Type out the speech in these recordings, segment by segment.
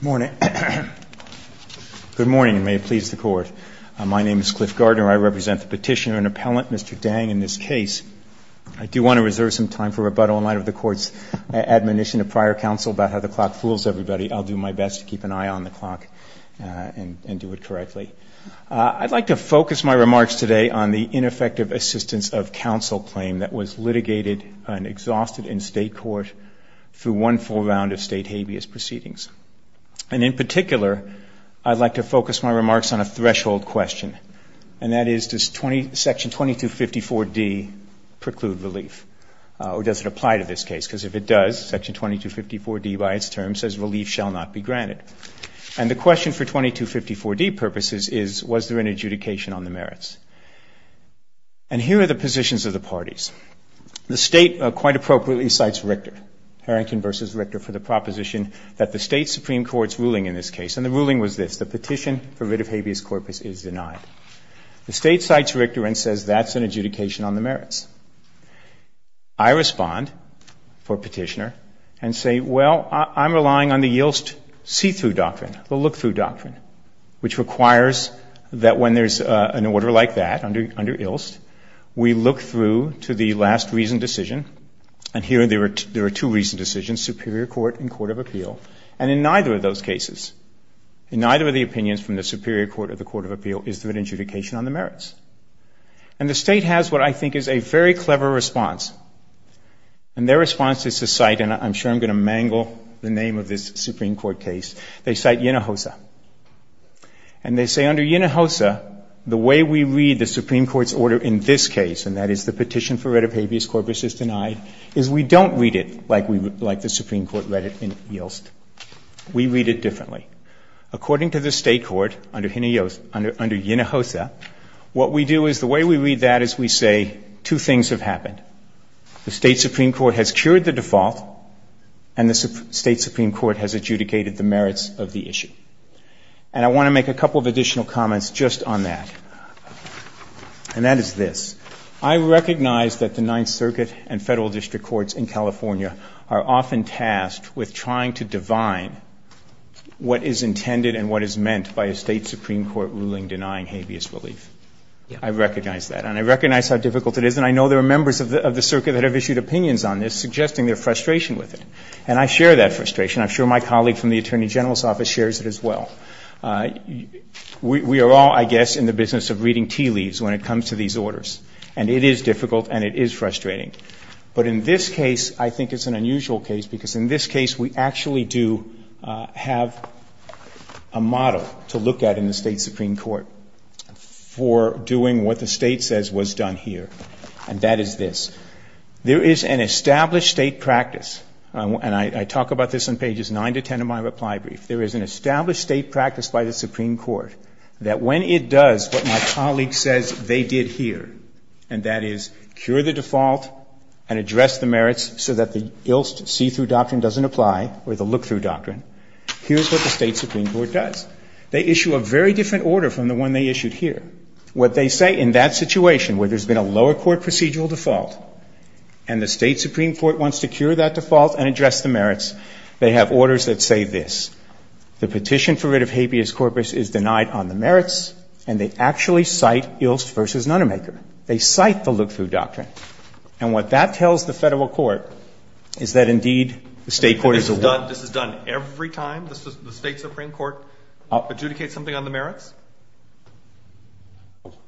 Good morning, and may it please the Court. My name is Cliff Gardner. I represent the Petitioner and Appellant, Mr. Dang, in this case. I do want to reserve some time for rebuttal in light of the Court's admonition to prior counsel about how the clock fools everybody. I'll do my best to keep an eye on the clock and do it correctly. I'd like to focus my remarks today on the ineffective assistance of counsel claim that was litigated and exhausted in state court through one full round of state habeas proceedings. And in particular, I'd like to focus my remarks on a threshold question, and that is, does Section 2254d preclude relief? Or does it apply to this case? Because if it does, Section 2254d by its term says relief shall not be granted. And the question for 2254d purposes is, was there an adjudication on the merits? And here are the positions of the parties. The State quite appropriately cites Richter, Harrington v. Richter, for the proposition that the State Supreme Court's ruling in this case, and the ruling was this, the petition for writ of habeas corpus is denied. The State cites Richter and says that's an adjudication on the merits. I respond for Petitioner and say, well, I'm relying on the Yilst see-through doctrine, the look-through doctrine, which requires that when there's an order like that under Yilst, we look through to the last reasoned decision. And here there are two reasoned decisions, superior court and court of appeal. And in neither of those cases, in neither of the opinions from the superior court or the court of appeal, is there an adjudication on the merits? And the State has what I think is a very clever response. And their response is to cite, and I'm sure I'm going to mangle the name of this Supreme Court case, they cite Yinehosa. And they say under Yinehosa, the way we read the Supreme Court's order in this case, and that is the petition for writ of habeas corpus is denied, is we don't read it like the Supreme Court read it in Yilst. We read it differently. According to the State court under Yinehosa, what we do is the way we read that is we say two things have happened. The State Supreme Court has cured the default and the State Supreme Court has adjudicated the merits of the issue. And I want to make a couple of additional comments just on that. And that is this. I recognize that the Ninth Circuit and federal district courts in California are often tasked with trying to divine what is intended and what is meant by a State Supreme Court ruling denying habeas relief. I recognize that. And I recognize how difficult it is. And I know there are members of the circuit that have issued opinions on this suggesting their frustration with it. And I share that frustration. I'm sure my colleague from the Attorney General's office shares it as well. We are all, I guess, in the business of reading tea leaves when it comes to these orders. And it is difficult and it is frustrating. But in this case, I think it's an unusual case because in this case we actually do have a model to look at in the State Supreme Court for doing what the State says was done here. And that is this. There is an established State practice, and I talk about this on pages 9 to 10 of my reply brief. There is an established State practice by the Supreme Court that when it does what my colleague says they did here, and that is cure the default and address the merits so that the ILST see-through doctrine doesn't apply or the look-through doctrine, here's what the State Supreme Court does. They issue a very different order from the one they issued here. What they say in that situation where there's been a lower court procedural default and the State Supreme Court wants to cure that default and address the merits, they have orders that say this. The petition for writ of habeas corpus is denied on the merits, and they actually cite ILST v. Nunnermaker. They cite the look-through doctrine. And what that tells the Federal court is that, indeed, the State court is the one. This is done every time the State Supreme Court adjudicates something on the merits?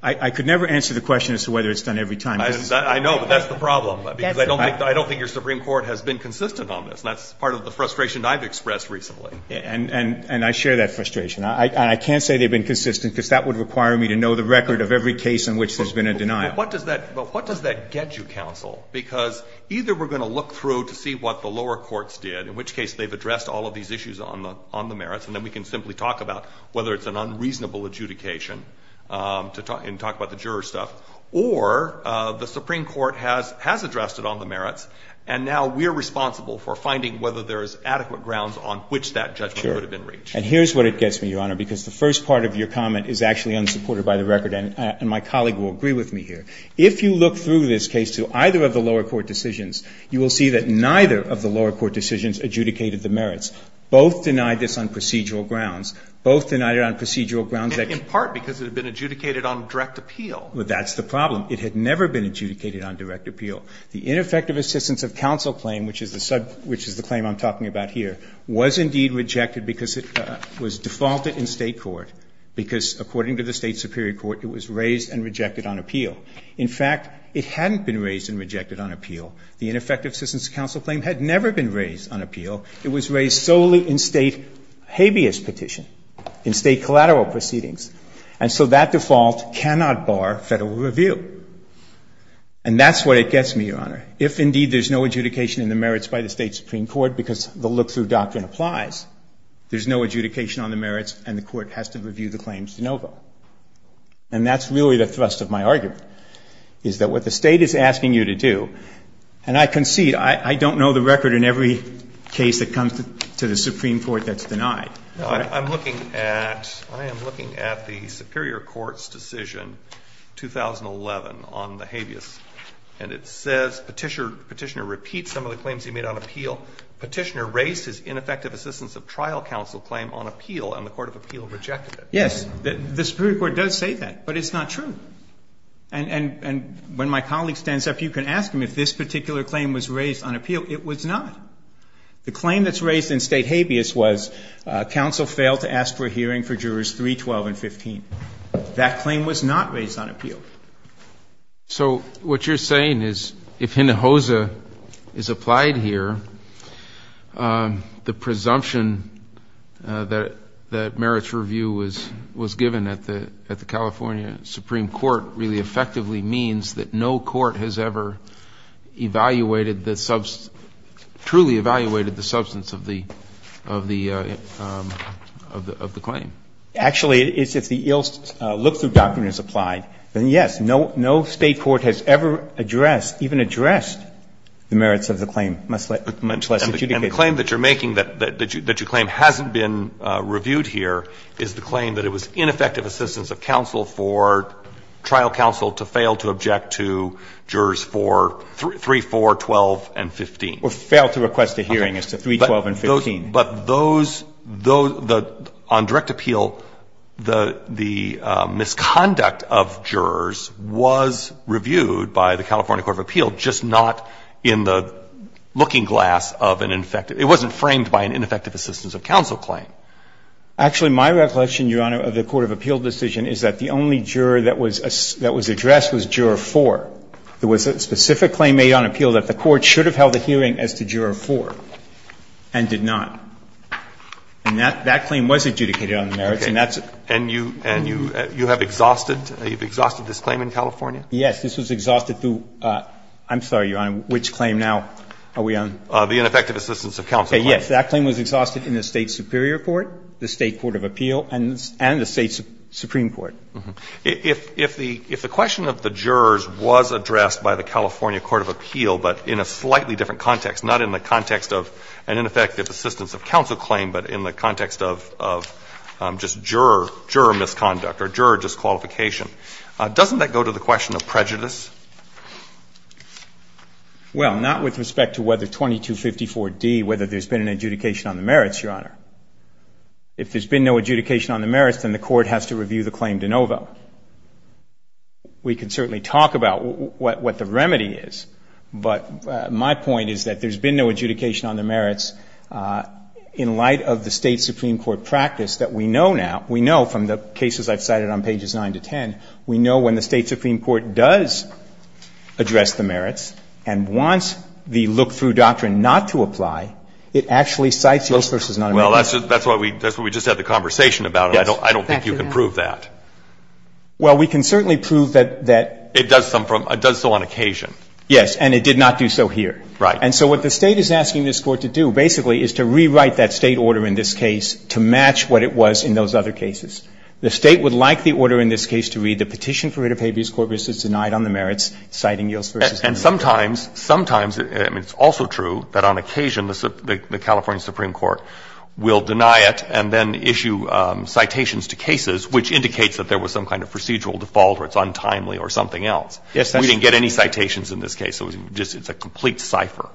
I could never answer the question as to whether it's done every time. I know, but that's the problem. I don't think your Supreme Court has been consistent on this. That's part of the frustration I've expressed recently. And I share that frustration. I can't say they've been consistent because that would require me to know the record of every case in which there's been a denial. But what does that get you, counsel? Because either we're going to look through to see what the lower courts did, in which case they've addressed all of these issues on the merits, and then we can simply talk about whether it's an unreasonable adjudication and talk about the juror stuff. Or the Supreme Court has addressed it on the merits, and now we're responsible for finding whether there's adequate grounds on which that judgment would have been reached. And here's what it gets me, Your Honor, because the first part of your comment is actually unsupported by the record, and my colleague will agree with me here. If you look through this case to either of the lower court decisions, you will see that neither of the lower court decisions adjudicated the merits. Both denied this on procedural grounds. Both denied it on procedural grounds that it's been adjudicated on direct appeal. Well, that's the problem. It had never been adjudicated on direct appeal. The ineffective assistance of counsel claim, which is the claim I'm talking about here, was indeed rejected because it was defaulted in State court, because according to the State superior court, it was raised and rejected on appeal. In fact, it hadn't been raised and rejected on appeal. The ineffective assistance of counsel claim had never been raised on appeal. It was raised solely in State habeas petition, in State collateral proceedings. And so that default cannot bar Federal review. And that's what it gets me, Your Honor. If indeed there's no adjudication in the merits by the State supreme court, because the look-through doctrine applies, there's no adjudication on the merits and the court has to review the claims de novo. And that's really the thrust of my argument, is that what the State is asking you to do, and I concede, I don't know the record in every case that comes to the Supreme Court that's denied. I'm looking at, I am looking at the superior court's decision, 2011, on the habeas. And it says, Petitioner repeats some of the claims he made on appeal. Petitioner raised his ineffective assistance of trial counsel claim on appeal, and the court of appeal rejected it. Yes. The superior court does say that, but it's not true. And when my colleague stands up, you can ask him if this particular claim was raised on appeal. It was not. The claim that's raised in State habeas was counsel failed to ask for a hearing That claim was not raised on appeal. So what you're saying is if Hinojosa is applied here, the presumption that merits review was given at the California Supreme Court really effectively means that no court has ever evaluated the substance, truly evaluated the substance of the claim. Actually, it's if the ILST look-through document is applied, then, yes, no State court has ever addressed, even addressed, the merits of the claim, much less adjudicated. And the claim that you're making that your claim hasn't been reviewed here is the claim that it was ineffective assistance of counsel for trial counsel to fail to object to jurors 3, 4, 12, and 15. Or fail to request a hearing as to 3, 12, and 15. But those, on direct appeal, the misconduct of jurors was reviewed by the California court of appeal, just not in the looking glass of an ineffective, it wasn't framed by an ineffective assistance of counsel claim. Actually, my recollection, Your Honor, of the court of appeal decision is that the only juror that was addressed was juror 4. There was a specific claim made on appeal that the court should have held a hearing as to juror 4. And did not. And that claim was adjudicated on the merits, and that's a. And you have exhausted, you've exhausted this claim in California? Yes. This was exhausted through, I'm sorry, Your Honor, which claim now are we on? The ineffective assistance of counsel claim. Okay. Yes. That claim was exhausted in the State superior court, the State court of appeal, and the State supreme court. If the question of the jurors was addressed by the California court of appeal, but in a slightly different context, not in the context of an ineffective assistance of counsel claim, but in the context of just juror misconduct or juror disqualification, doesn't that go to the question of prejudice? Well, not with respect to whether 2254d, whether there's been an adjudication on the merits, Your Honor. If there's been no adjudication on the merits, then the court has to review the claim de novo. We could certainly talk about what the remedy is, but my point is that there's been no adjudication on the merits in light of the State supreme court practice that we know now. We know from the cases I've cited on pages 9 to 10, we know when the State supreme court does address the merits and wants the look-through doctrine not to apply, it actually cites the illustrious nonamendment. Well, that's what we just had the conversation about, and I don't think you can prove that. Well, we can certainly prove that that It does some from, it does so on occasion. Yes, and it did not do so here. Right. And so what the State is asking this Court to do basically is to rewrite that State order in this case to match what it was in those other cases. The State would like the order in this case to read the petition for writ of habeas corpus is denied on the merits, citing Yills v. And sometimes, sometimes, I mean, it's also true that on occasion the California Supreme Court will deny it and then issue citations to cases, which indicates that there was some kind of procedural default or it's untimely or something else. Yes, that's true. We didn't get any citations in this case. It was just, it's a complete cipher.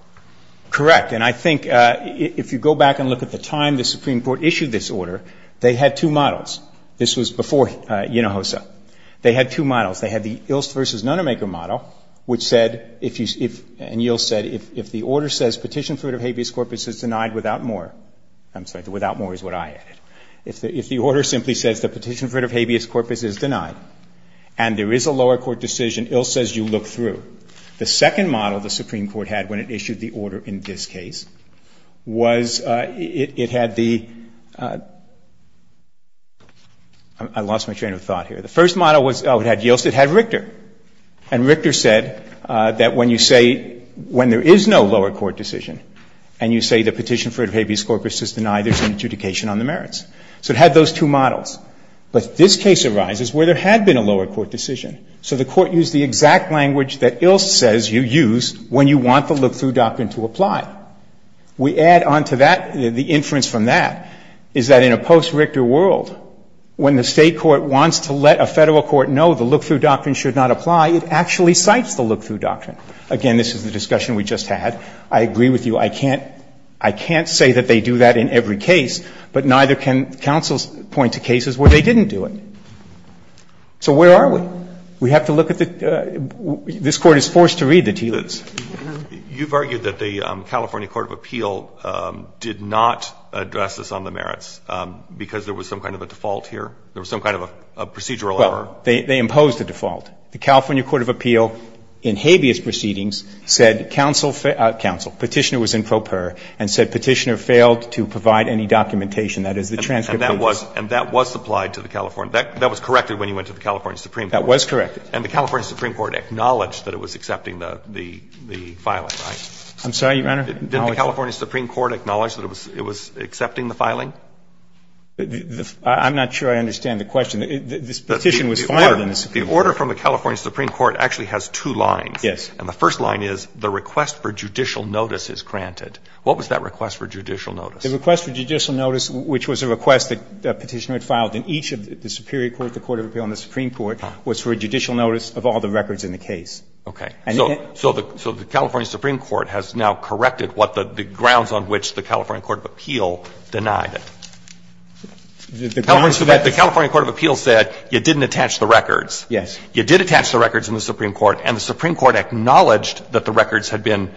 Correct. And I think if you go back and look at the time the Supreme Court issued this order, they had two models. This was before Unojosa. They had two models. They had the Illst v. Nonamaker model, which said if you, and Yills said, if the order says petition for writ of habeas corpus is denied without more, I'm sorry, without more is what I added, if the order simply says the petition for writ of habeas corpus is denied and there is a lower court decision, Ills says you look through. The second model the Supreme Court had when it issued the order in this case was it had the – I lost my train of thought here. The first model was, oh, it had Yills. It had Richter. And Richter said that when you say, when there is no lower court decision and you say the petition for writ of habeas corpus is denied, there is an adjudication on the merits. So it had those two models. But this case arises where there had been a lower court decision. So the Court used the exact language that Ills says you use when you want the look-through doctrine to apply. We add on to that, the inference from that, is that in a post-Richter world, when the State court wants to let a Federal court know the look-through doctrine should not apply, it actually cites the look-through doctrine. Again, this is the discussion we just had. I agree with you. I can't say that they do that in every case, but neither can counsels point to cases where they didn't do it. So where are we? We have to look at the – this Court is forced to read the TILUs. You've argued that the California court of appeal did not address this on the merits because there was some kind of a default here? There was some kind of a procedural error? Well, they imposed a default. The California court of appeal, in habeas proceedings, said counsel – counsel, Petitioner was in pro per, and said Petitioner failed to provide any documentation, that is, the transcript of the case. And that was supplied to the California – that was corrected when you went to the California Supreme Court. That was corrected. And the California Supreme Court acknowledged that it was accepting the filing, right? I'm sorry, Your Honor? Didn't the California Supreme Court acknowledge that it was accepting the filing? I'm not sure I understand the question. This Petition was filed in the Supreme Court. The order from the California Supreme Court actually has two lines. Yes. And the first line is, the request for judicial notice is granted. What was that request for judicial notice? The request for judicial notice, which was a request that Petitioner had filed in each of the superior courts, the court of appeal and the Supreme Court, was for a judicial notice of all the records in the case. Okay. So the California Supreme Court has now corrected what the grounds on which the California Court of Appeal denied it. The California Court of Appeal said you didn't attach the records. Yes. You did attach the records in the Supreme Court, and the Supreme Court acknowledged that the records had been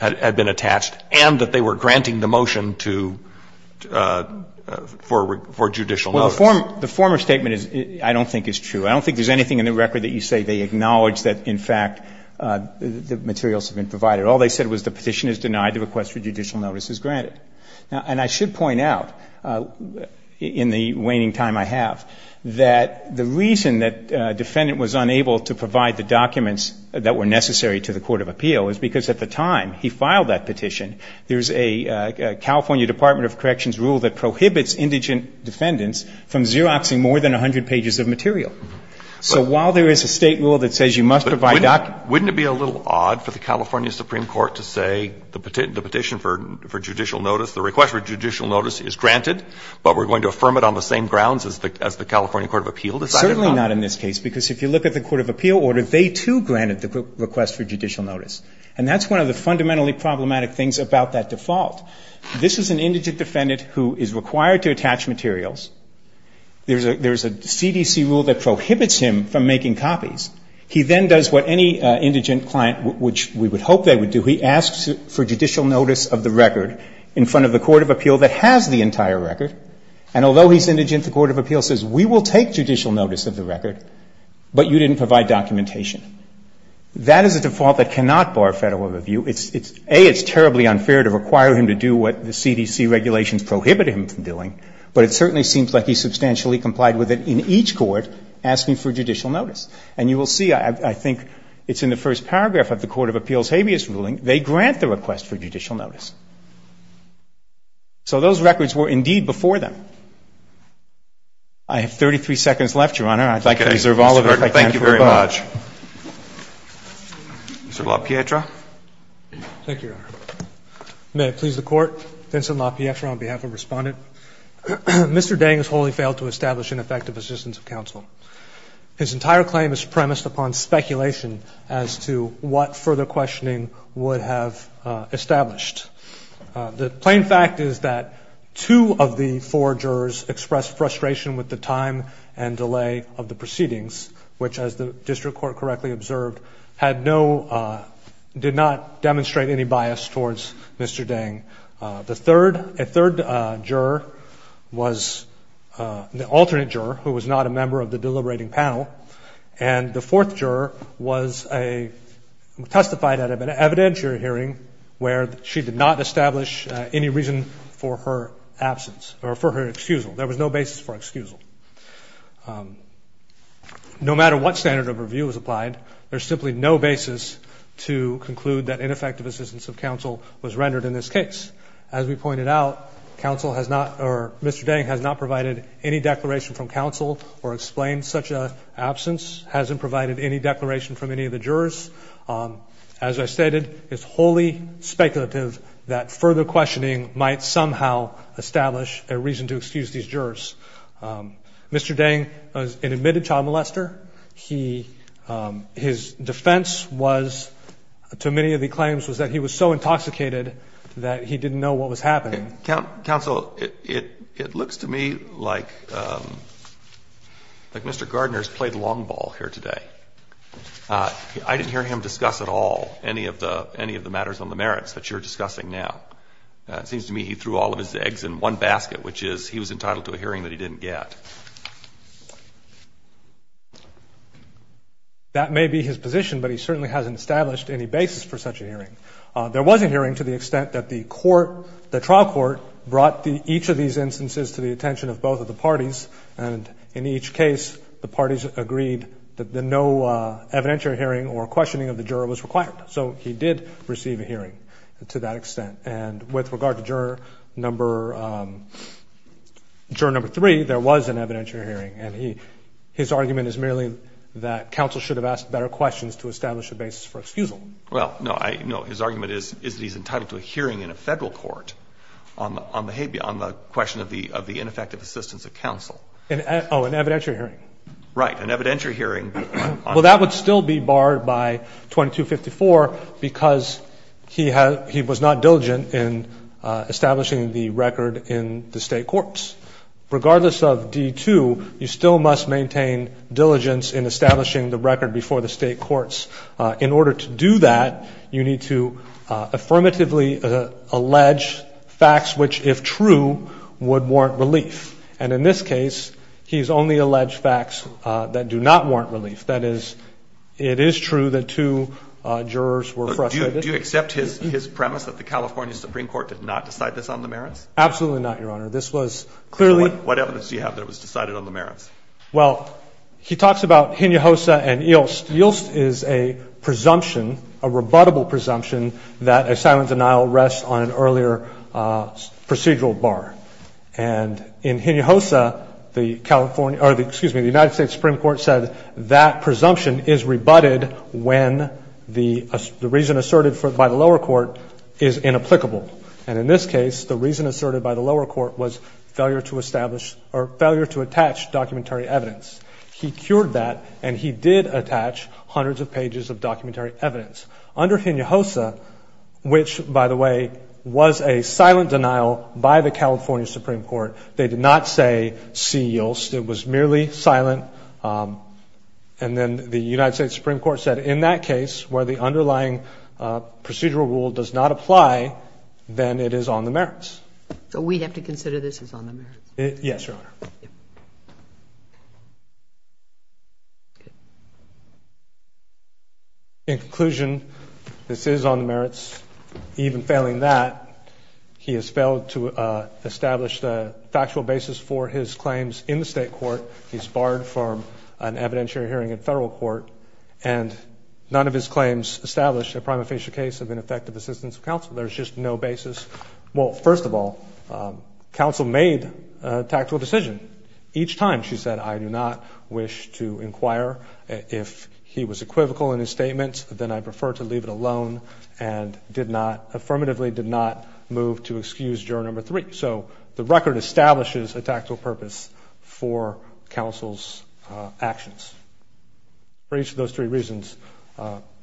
attached and that they were granting the motion to – for judicial notice. Well, the former statement is – I don't think it's true. I don't think there's anything in the record that you say they acknowledge that, in fact, the materials have been provided. All they said was the Petition is denied, the request for judicial notice is granted. And I should point out, in the waning time I have, that the reason that a defendant was unable to provide the documents that were necessary to the court of appeal is because at the time he filed that petition, there's a California Department of Corrections rule that prohibits indigent defendants from Xeroxing more than 100 pages of material. So while there is a State rule that says you must provide documents – But wouldn't it be a little odd for the California Supreme Court to say the petition for judicial notice, the request for judicial notice is granted, but we're going to affirm it on the same grounds as the California court of appeal decided on? Certainly not in this case, because if you look at the court of appeal order, they too granted the request for judicial notice. And that's one of the fundamentally problematic things about that default. This is an indigent defendant who is required to attach materials. There's a CDC rule that prohibits him from making copies. He then does what any indigent client, which we would hope they would do, he asks for judicial notice of the record in front of the court of appeal that has the entire record, and although he's indigent, the court of appeal says we will take judicial notice of the record, but you didn't provide documentation. That is a default that cannot bar Federal review. A, it's terribly unfair to require him to do what the CDC regulations prohibit him from doing, but it certainly seems like he substantially complied with it in each court asking for judicial notice. And you will see, I think it's in the first paragraph of the court of appeal's report, that he did not provide the request for judicial notice. So those records were indeed before them. I have 33 seconds left, Your Honor. I think I deserve all of it. Thank you very much. Mr. LaPietra. Thank you, Your Honor. May it please the Court. Vincent LaPietra on behalf of Respondent. Mr. Dang has wholly failed to establish an effective assistance of counsel. His entire claim is premised upon speculation as to what further questioning would have established. The plain fact is that two of the four jurors expressed frustration with the time and delay of the proceedings, which, as the district court correctly observed, had no, did not demonstrate any bias towards Mr. Dang. The third, a third juror was the alternate juror who was not a member of the evidence you're hearing where she did not establish any reason for her absence or for her excusal. There was no basis for excusal. No matter what standard of review was applied, there's simply no basis to conclude that ineffective assistance of counsel was rendered in this case. As we pointed out, counsel has not, or Mr. Dang has not provided any declaration from counsel or explained such an absence, hasn't provided any declaration from any of the jurors. As I stated, it's wholly speculative that further questioning might somehow establish a reason to excuse these jurors. Mr. Dang is an admitted child molester. He, his defense was, to many of the claims, was that he was so intoxicated that he didn't know what was happening. Counsel, it looks to me like Mr. Gardner's played long ball here today. I didn't hear him discuss at all any of the, any of the matters on the merits that you're discussing now. It seems to me he threw all of his eggs in one basket, which is he was entitled to a hearing that he didn't get. That may be his position, but he certainly hasn't established any basis for such a hearing. There was a hearing to the extent that the court, the trial court brought each of these instances to the attention of both of the parties. And in each case, the parties agreed that the no evidentiary hearing or questioning of the juror was required. So he did receive a hearing to that extent. And with regard to juror number, juror number three, there was an evidentiary hearing. And he, his argument is merely that counsel should have asked better questions to establish a basis for excusal. Well, no, I, no. His argument is, is that he's entitled to a hearing in a Federal court on the, on the question of the ineffective assistance of counsel. Oh, an evidentiary hearing. Right. An evidentiary hearing. Well, that would still be barred by 2254 because he had, he was not diligent in establishing the record in the State courts. Regardless of D2, you still must maintain diligence in establishing the record before the State courts. In order to do that, you need to affirmatively allege facts which, if true, would warrant relief. And in this case, he's only alleged facts that do not warrant relief. That is, it is true that two jurors were frustrated. Do you accept his, his premise that the California Supreme Court did not decide this on the merits? Absolutely not, Your Honor. This was clearly. What evidence do you have that it was decided on the merits? Well, he talks about Hinojosa and Ilst. Ilst is a presumption, a rebuttable presumption, that a silent denial rests on an earlier procedural bar. And in Hinojosa, the California, or the, excuse me, the United States Supreme Court said that presumption is rebutted when the, the reason asserted by the lower court is inapplicable. And in this case, the reason asserted by the lower court was failure to establish or failure to attach documentary evidence. He cured that and he did attach hundreds of pages of documentary evidence. Under Hinojosa, which, by the way, was a silent denial by the California Supreme Court, they did not say see Ilst. It was merely silent. And then the United States Supreme Court said in that case, where the underlying procedural rule does not apply, then it is on the merits. So we have to consider this as on the merits? Yes, Your Honor. In conclusion, this is on the merits. Even failing that, he has failed to establish the factual basis for his claims in the state court. He's barred from an evidentiary hearing in federal court. And none of his claims established a prima facie case of ineffective assistance of counsel. There's just no basis. Well, first of all, counsel made a tactical decision. Each time she said, I do not wish to inquire if he was equivocal in his statements, then I prefer to leave it alone and did not affirmatively did not move to excuse juror number three. So the record establishes a tactical purpose for counsel's actions. For each of those three reasons,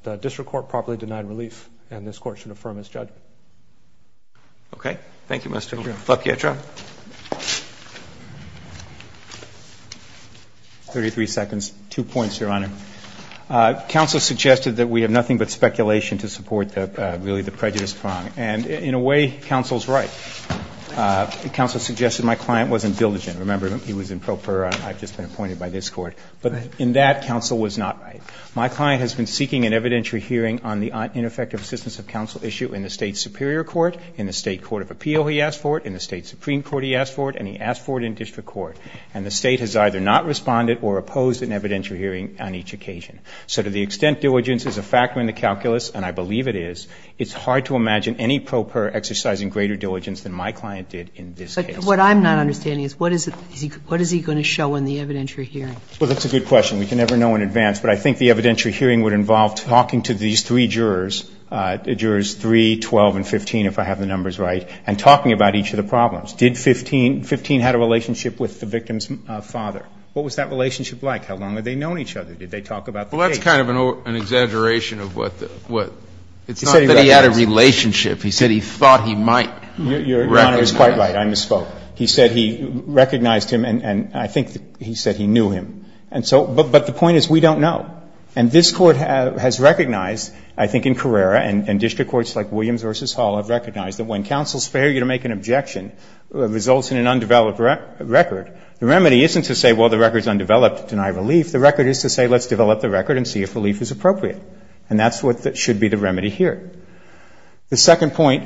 the district court properly denied relief and this court should affirm its judgment. Okay. Thank you, Mr. Flapietra. 33 seconds. Two points, Your Honor. Counsel suggested that we have nothing but speculation to support that really the prejudice prong. And in a way, counsel's right. Counsel suggested my client wasn't diligent. Remember, he was improper. I've just been appointed by this court, but in that counsel was not right. My client has been seeking an evidentiary hearing on the ineffective assistance of counsel issue in the state superior court, in the state court of appeal. He asked for it in the state superior court. He asked for it in the supreme court. He asked for it and he asked for it in district court. And the state has either not responded or opposed an evidentiary hearing on each occasion. So to the extent diligence is a factor in the calculus, and I believe it is, it's hard to imagine any pro per exercising greater diligence than my client did in this case. But what I'm not understanding is what is it, what is he going to show in the evidentiary hearing? Well, that's a good question. We can never know in advance, but I think the evidentiary hearing would involve talking to these three jurors, jurors three, 12 and 15, if I have the numbers right, and talking about each of the problems. Did 15, 15 had a relationship with the victim's father? What was that relationship like? How long had they known each other? Did they talk about the case? Well, that's kind of an exaggeration of what the, what. It's not that he had a relationship. He said he thought he might. Your Honor is quite right. I misspoke. He said he recognized him and I think he said he knew him. And so, but the point is we don't know. And this Court has recognized, I think in Carrera and district courts like Williams v. Hall have recognized that when counsel's failure to make an objection results in an undeveloped record, the remedy isn't to say, well, the record is undeveloped, deny relief. The record is to say let's develop the record and see if relief is appropriate. And that's what should be the remedy here. The second point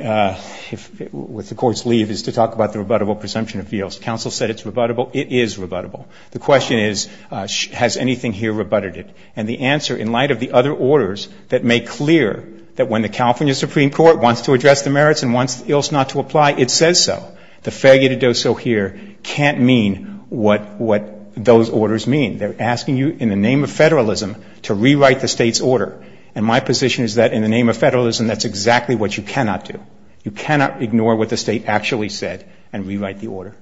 with the Court's leave is to talk about the rebuttable presumption appeals. Counsel said it's rebuttable. It is rebuttable. The question is has anything here rebutted it? And the answer in light of the other orders that make clear that when the California Supreme Court wants to address the merits and wants the ills not to apply, it says so. The failure to do so here can't mean what, what those orders mean. They're asking you in the name of federalism to rewrite the State's order. And my position is that in the name of federalism, that's exactly what you cannot do. You cannot ignore what the State actually said and rewrite the order.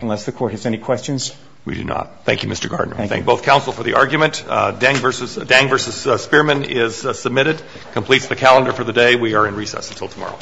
Unless the Court has any questions. We do not. Thank you, Mr. Gardner. I thank both counsel for the argument. Dang v. Spearman is submitted, completes the calendar for the day. We are in recess until tomorrow.